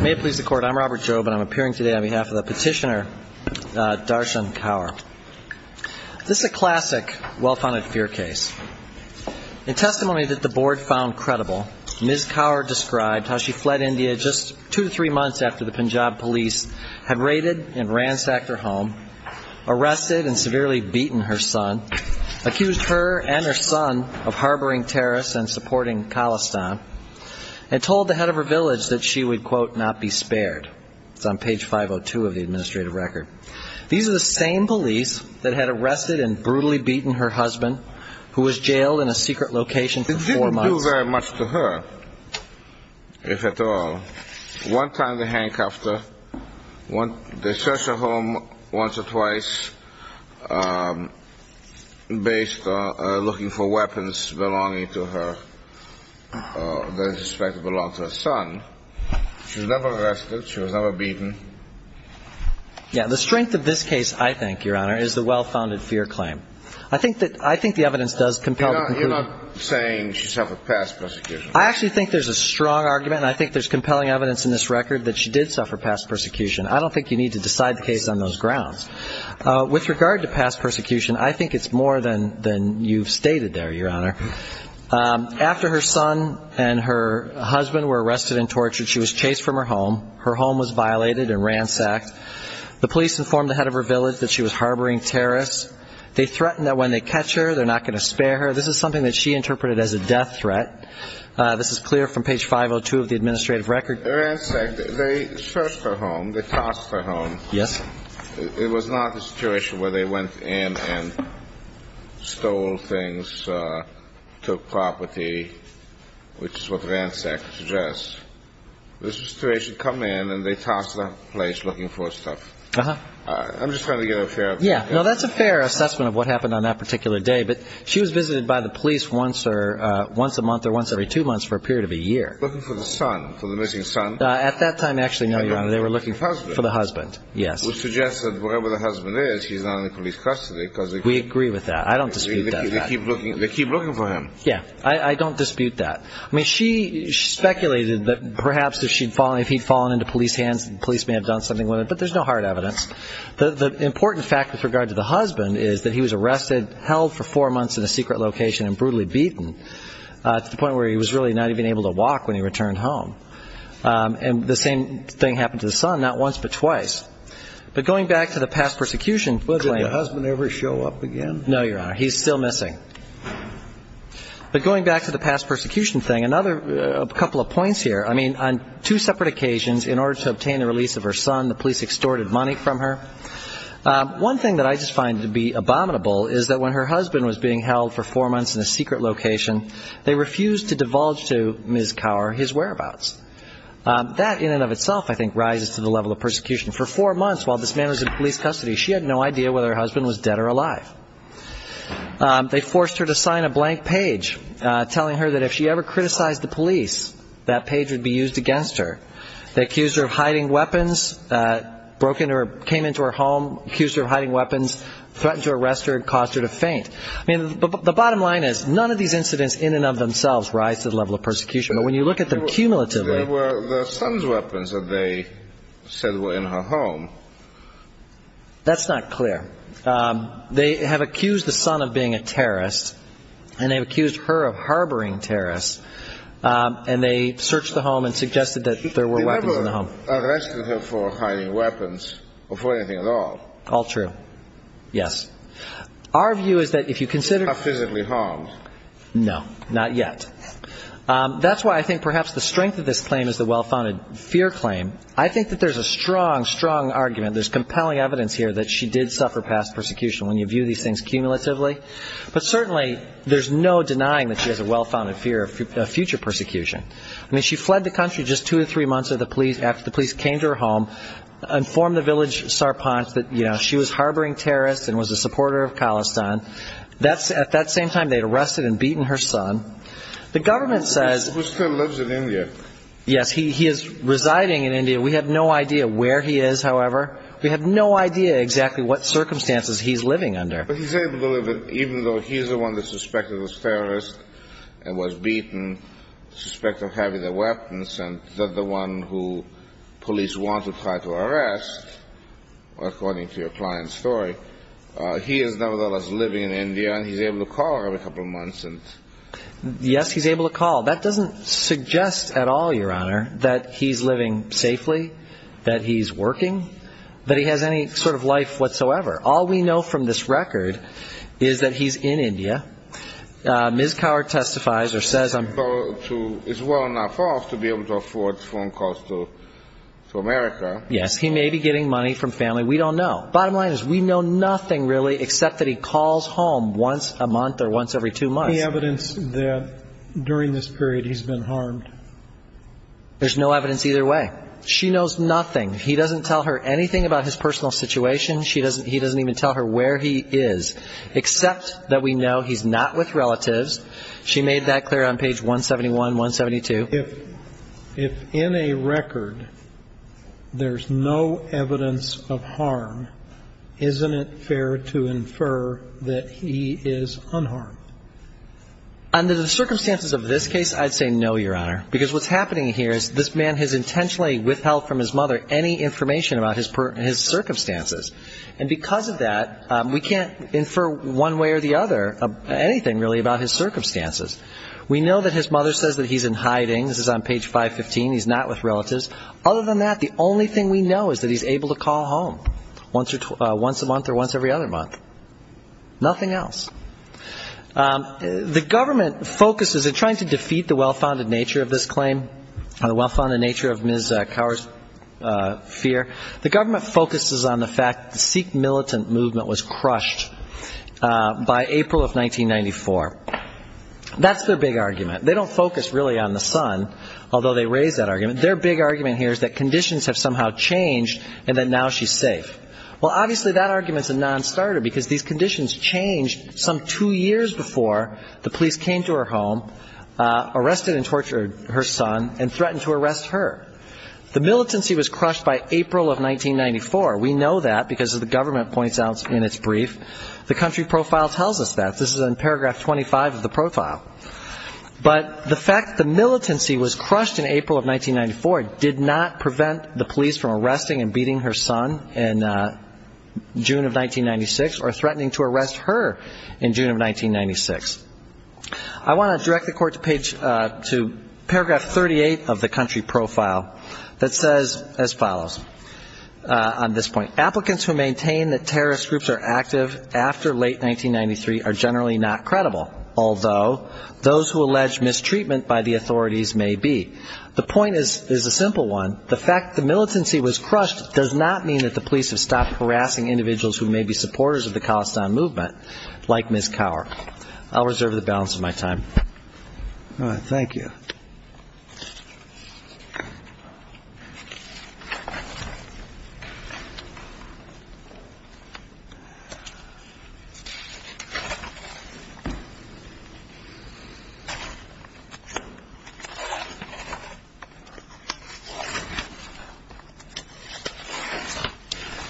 May it please the Court, I'm Robert Jobe and I'm appearing today on behalf of the petitioner Darshan Kaur. This is a classic well-founded fear case. In testimony that the Board found credible, Ms. Kaur described how she fled India just two to three months after the Punjab police had raided and ransacked her home, arrested and severely beaten her son, accused her and her son of harboring terrorists and supporting Khalistan, and told the head of her village that she would, quote, not be spared. It's on page 502 of the administrative record. These are the same police that had arrested and brutally beaten her husband, who was jailed in a secret location for four months. The strength of this case, I think, Your Honor, is the well-founded fear claim. I think that, I think the evidence does compel the conclusion. I actually think there's a strong argument and I think there's compelling evidence in this record that she did suffer past persecution. I don't think you need to decide the case on those grounds. With regard to past persecution, I think it's more than you've stated there, Your Honor. After her son and her husband were arrested and tortured, she was chased from her home. Her home was violated and ransacked. The police informed the head of her village that she was harboring terrorists. They threatened that when they catch her, they're not going to spare her. This is something that she interpreted as a death threat. This is clear from page 502 of the administrative record. Ransacked. They searched her home. They tossed her home. Yes. It was not a situation where they went in and stole things, took property, which is what ransacked suggests. This was a situation, come in and they tossed her place looking for stuff. Uh-huh. I'm just trying to get a fair opinion. Yeah. No, that's a fair assessment of what happened on that particular day, but she was visited by the police once a month or once every two months for a period of a year. Looking for the son, for the missing son. At that time, actually, no, Your Honor. They were looking for the husband. For the husband, yes. Which suggests that wherever the husband is, he's now in police custody. We agree with that. I don't dispute that. They keep looking for him. Yeah. I don't dispute that. I mean, she speculated that perhaps if he'd fallen into police hands, the police may have done something with The important fact with regard to the husband is that he was arrested, held for four months in a secret location and brutally beaten to the point where he was really not even able to walk when he returned home. And the same thing happened to the son, not once but twice. But going back to the past persecution claim. Did the husband ever show up again? No, Your Honor. He's still missing. But going back to the past persecution thing, another couple of points here. I mean, on two separate occasions, in order to obtain the release of her son, the police extorted money from her. One thing that I just find to be abominable is that when her husband was being held for four months in a secret location, they refused to divulge to Ms. Cower his whereabouts. That in and of itself, I think, rises to the level of persecution. For four months while this man was in police custody, she had no idea whether her husband was dead or alive. They forced her to sign a blank page telling her that if she ever criticized the police, that page would be used against her. They accused her of hiding weapons, came into her home, accused her of hiding weapons, threatened to arrest her and caused her to faint. I mean, the bottom line is none of these incidents in and of themselves rise to the level of persecution. But when you look at them cumulatively... There were the son's weapons that they said were in her home. That's not clear. They have accused the son of being a terrorist, and they've accused her of harboring terrorists, and they searched the home and suggested that there were weapons in the home. They never arrested her for hiding weapons or for anything at all. All true. Yes. Our view is that if you consider... Not physically harmed. No, not yet. That's why I think perhaps the strength of this claim is the well-founded fear claim. I think that there's a strong, strong argument. There's compelling evidence here that she did suffer past persecution when you view these things cumulatively. But certainly there's no denying that she has a well-founded fear of future persecution. I mean, she fled the country just two or three months after the police came to her home, informed the village Sarpanch that, you know, she was harboring terrorists and was a supporter of Khalistan. At that same time, they had arrested and beaten her son. The government says... He still lives in India. Yes, he is residing in India. We have no idea where he is, however. We have no idea exactly what circumstances he's living under. But he's able to live there, even though he's the one that's suspected of being a terrorist and was beaten, suspected of having the weapons, and the one who police want to try to arrest, according to your client's story. He is nevertheless living in India, and he's able to call her every couple of months. Yes, he's able to call. That doesn't suggest at all, Your Honor, that he's living safely, that he's working, that he has any sort of life whatsoever. All we know from this record is that he's in India. Ms. Kaur testifies or says I'm... Is well enough off to be able to afford phone calls to America. Yes, he may be getting money from family. We don't know. Bottom line is we know nothing, really, except that he calls home once a month or once every two months. Is there any evidence that during this period he's been harmed? There's no evidence either way. She knows nothing. He doesn't tell her anything about his personal situation. He doesn't even tell her where he is, except that we know he's not with relatives. She made that clear on page 171, 172. If in a record there's no evidence of harm, isn't it fair to infer that he is unharmed? Under the circumstances of this case, I'd say no, Your Honor, because what's happening here is this man has intentionally withheld from his mother any information about his circumstances. And because of that, we can't infer one way or the other anything, really, about his circumstances. We know that his mother says that he's in hiding. This is on page 515. He's not with relatives. Other than that, the only thing we know is that he's able to call home once a month or once every other month. Nothing else. The government focuses in trying to defeat the well-founded nature of this claim and the well-founded nature of Ms. Cower's fear, the government focuses on the fact that the Sikh militant movement was crushed by April of 1994. That's their big argument. They don't focus really on the son, although they raise that argument. Their big argument here is that conditions have somehow changed and that now she's safe. Well, obviously, that argument's a nonstarter, because these conditions changed some two years before the police came to her home, arrested and tortured her son, and threatened to arrest her. The militancy was crushed by April of 1994. We know that because the government points out in its brief. The country profile tells us that. This is in paragraph 25 of the profile. But the fact the militancy was crushed in April of 1994 did not prevent the police from arresting and beating her son in June of 1996 or threatening to arrest her in June of 1996. I want to direct the court to paragraph 38 of the country profile that says as follows on this point. Applicants who maintain that terrorist groups are active after late 1993 are generally not credible, although those who allege mistreatment by the authorities may be. The point is a simple one. The fact the militancy was crushed does not mean that the police have stopped harassing individuals who may be supporters of the Khalistan movement, like Ms. Cower. I'll reserve the balance of my time. All right. Thank you.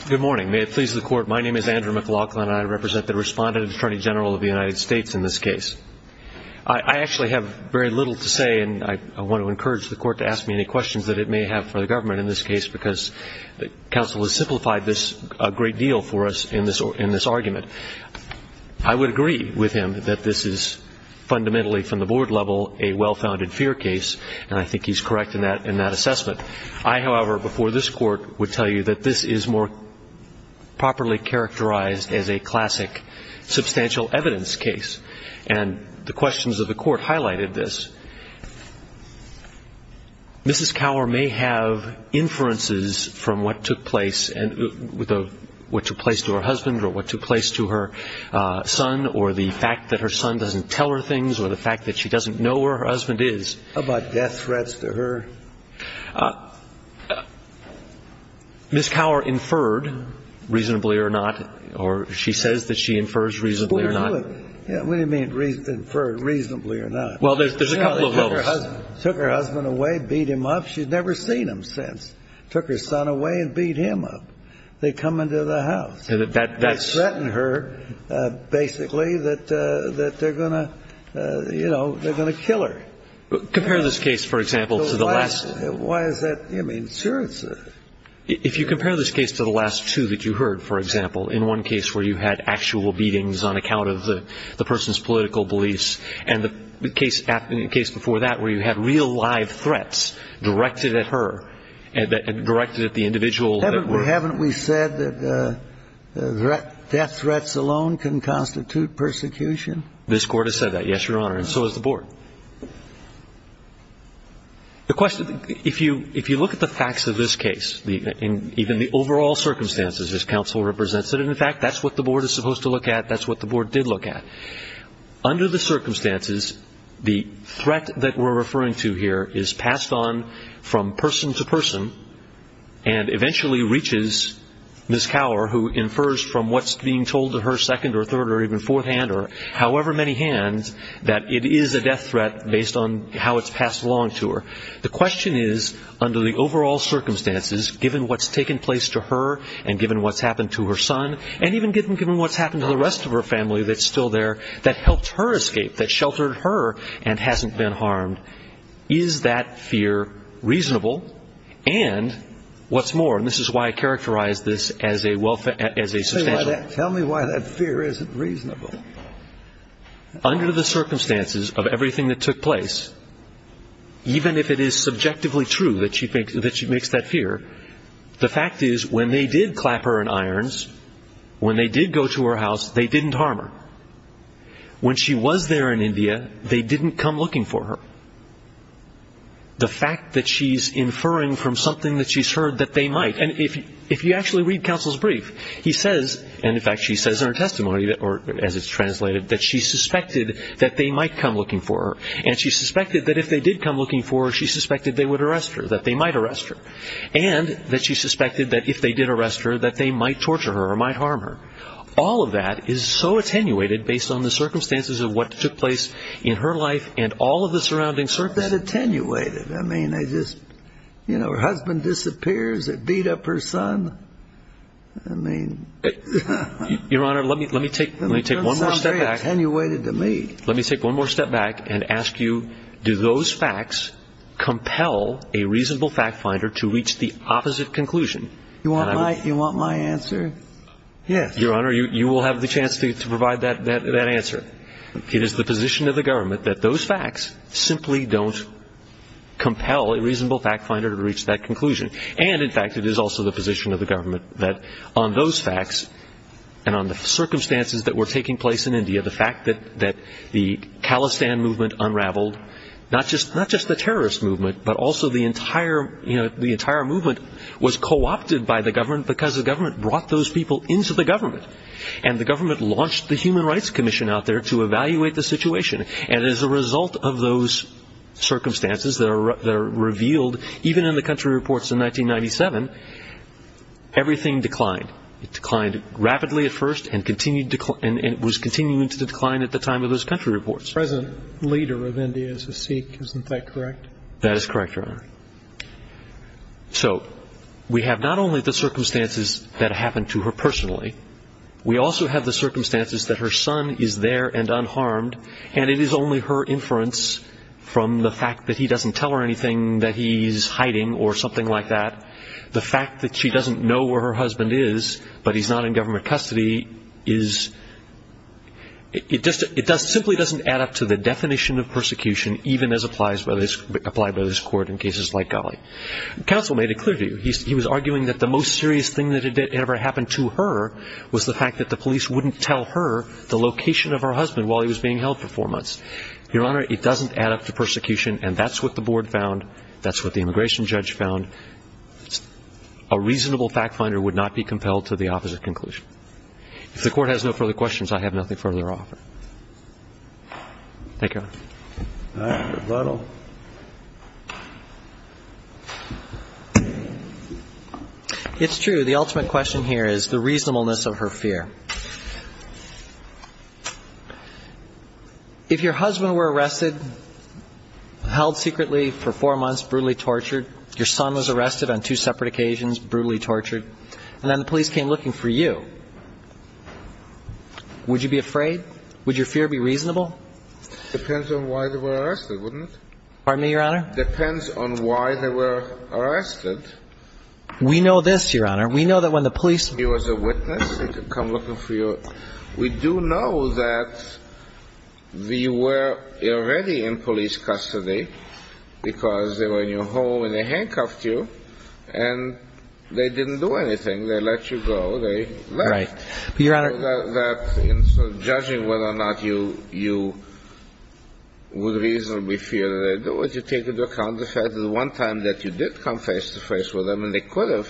Good morning. May it please the Court, my name is Andrew McLaughlin, and I represent the respondent attorney general of the United States in this case. I actually have very little to say, and I want to encourage the court to ask me any questions that it may have for the government in this case because counsel has simplified this a great deal for us in this argument. I would agree with him that this is fundamentally from the board level a well-founded fear case, and I think he's correct in that assessment. I, however, before this Court, would tell you that this is more properly characterized as a classic substantial evidence case, and the questions of the Court highlighted this. Mrs. Cower may have inferences from what took place to her husband or what took place to her son or the fact that her son doesn't tell her things or the fact that she doesn't know where her husband is. How about death threats to her? Mrs. Cower inferred reasonably or not, or she says that she infers reasonably or not. What do you mean inferred reasonably or not? Well, there's a couple of levels. Took her husband away, beat him up. She's never seen him since. Took her son away and beat him up. They come into the house. I threaten her, basically, that they're going to, you know, they're going to kill her. Compare this case, for example, to the last. Why is that? I mean, sure it's a. If you compare this case to the last two that you heard, for example, in one case where you had actual beatings on account of the person's political beliefs and the case before that where you had real live threats directed at her, directed at the individual. Haven't we said that death threats alone can constitute persecution? This Court has said that, yes, Your Honor, and so has the Board. The question, if you look at the facts of this case, even the overall circumstances, as counsel represents it, and, in fact, that's what the Board is supposed to look at. That's what the Board did look at. Under the circumstances, the threat that we're referring to here is passed on from person to person and eventually reaches Ms. Cower, who infers from what's being told to her second or third or even fourth hand or however many hands that it is a death threat based on how it's passed along to her. The question is, under the overall circumstances, given what's taken place to her and given what's happened to her son and even given what's happened to the rest of her family that's still there, that helped her escape, that sheltered her and hasn't been harmed, is that fear reasonable? And what's more, and this is why I characterize this as a substantial... Tell me why that fear isn't reasonable. Under the circumstances of everything that took place, even if it is subjectively true that she makes that fear, the fact is when they did clap her in irons, when they did go to her house, they didn't harm her. When she was there in India, they didn't come looking for her. The fact that she's inferring from something that she's heard that they might... And if you actually read Counsel's Brief, he says, and in fact she says in her testimony, or as it's translated, that she suspected that they might come looking for her. And she suspected that if they did come looking for her, she suspected they would arrest her, that they might arrest her. And that she suspected that if they did arrest her, that they might torture her or might harm her. All of that is so attenuated based on the circumstances of what took place in her life and all of the surrounding circumstances. What's that attenuated? I mean, I just, you know, her husband disappears, they beat up her son. I mean... Your Honor, let me take one more step back. It sounds very attenuated to me. Let me take one more step back and ask you, do those facts compel a reasonable fact finder to reach the opposite conclusion? You want my answer? Yes. Your Honor, you will have the chance to provide that answer. It is the position of the government that those facts simply don't compel a reasonable fact finder to reach that conclusion. And, in fact, it is also the position of the government that on those facts and on the circumstances that were taking place in India, the fact that the Khalistan movement unraveled, not just the terrorist movement, but also the entire movement was co-opted by the government because the government brought those people into the government. And the government launched the Human Rights Commission out there to evaluate the situation. And as a result of those circumstances that are revealed, even in the country reports in 1997, everything declined. It declined rapidly at first and was continuing to decline at the time of those country reports. The present leader of India is a Sikh, isn't that correct? That is correct, Your Honor. So, we have not only the circumstances that happened to her personally, we also have the circumstances that her son is there and unharmed, and it is only her inference from the fact that he doesn't tell her anything, that he's hiding or something like that, the fact that she doesn't know where her husband is, but he's not in government custody, it simply doesn't add up to the definition of persecution even as applied by this Court in cases like Ghali. Counsel made it clear to you, he was arguing that the most serious thing that had ever happened to her was the fact that the police wouldn't tell her the location of her husband while he was being held for four months. Your Honor, it doesn't add up to persecution and that's what the board found, that's what the immigration judge found. A reasonable fact finder would not be compelled to the opposite conclusion. If the Court has no further questions, I have nothing further to offer. Thank you, Your Honor. All right, rebuttal. It's true, the ultimate question here is the reasonableness of her fear. If your husband were arrested, held secretly for four months, brutally tortured, your son was arrested on two separate occasions, brutally tortured, and then the police came looking for you, would you be afraid? Would your fear be reasonable? Depends on why they were arrested, wouldn't it? Pardon me, Your Honor? Depends on why they were arrested. We know this, Your Honor, we know that when the police... He was a witness, he could come looking for you. We do know that you were already in police custody because they were in your home and they handcuffed you and they didn't do anything. They let you go, they left. Right. But, Your Honor... Judging whether or not you would reasonably fear, would you take into account the fact that the one time that you did come face-to-face with them and they could have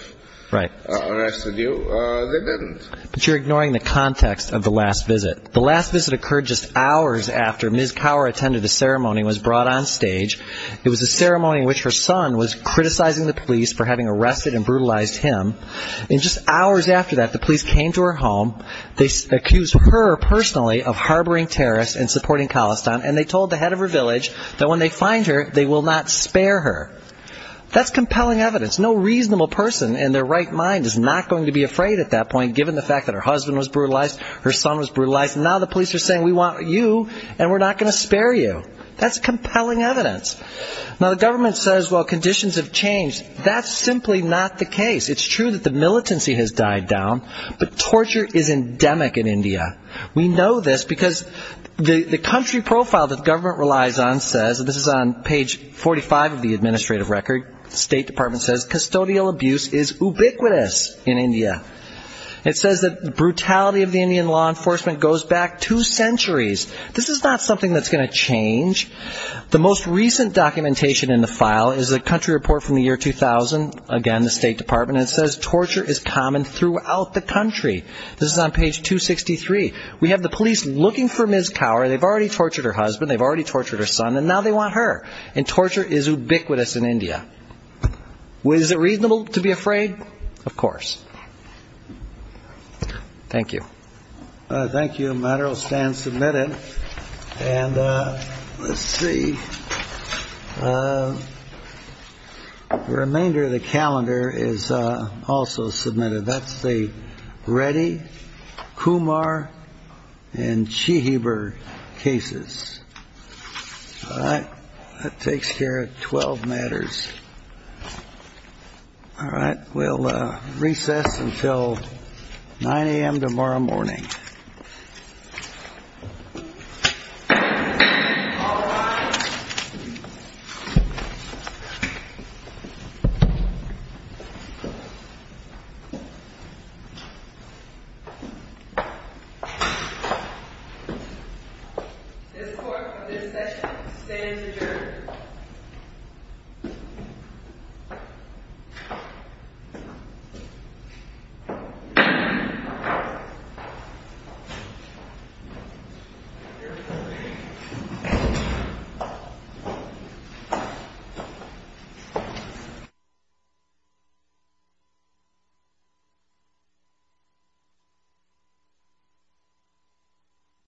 arrested you, they didn't. But you're ignoring the context of the last visit. The last visit occurred just hours after Ms. Cower attended a ceremony and was brought on stage. It was a ceremony in which her son was criticizing the police for having arrested and brutalized him. And just hours after that, the police came to her home, they accused her personally of harboring terrorists and supporting Khalistan and they told the head of her village that when they find her, they will not spare her. That's compelling evidence. No reasonable person in their right mind is not going to be afraid at that point given the fact that her husband was brutalized, her son was brutalized, and now the police are saying, we want you and we're not going to spare you. That's compelling evidence. Now, the government says, well, conditions have changed. That's simply not the case. It's true that the militancy has died down, but torture is endemic in India. We know this because the country profile that the government relies on says, and this is on page 45 of the administrative record, the State Department says custodial abuse is ubiquitous in India. It says that the brutality of the Indian law enforcement goes back two centuries. This is not something that's going to change. The most recent documentation in the file is a country report from the year 2000, again, the State Department, and it says torture is common throughout the country. This is on page 263. We have the police looking for Ms. Kaur. They've already tortured her husband, they've already tortured her son, and now they want her, and torture is ubiquitous in India. Is it reasonable to be afraid? Of course. Thank you. Thank you. The matter will stand submitted. And let's see. The remainder of the calendar is also submitted. That's the Reddy, Kumar, and Chihibur cases. All right. That takes care of 12 matters. All right. We'll recess until 9 a.m. tomorrow morning. All rise. This court, for this session, stands adjourned. Thank you.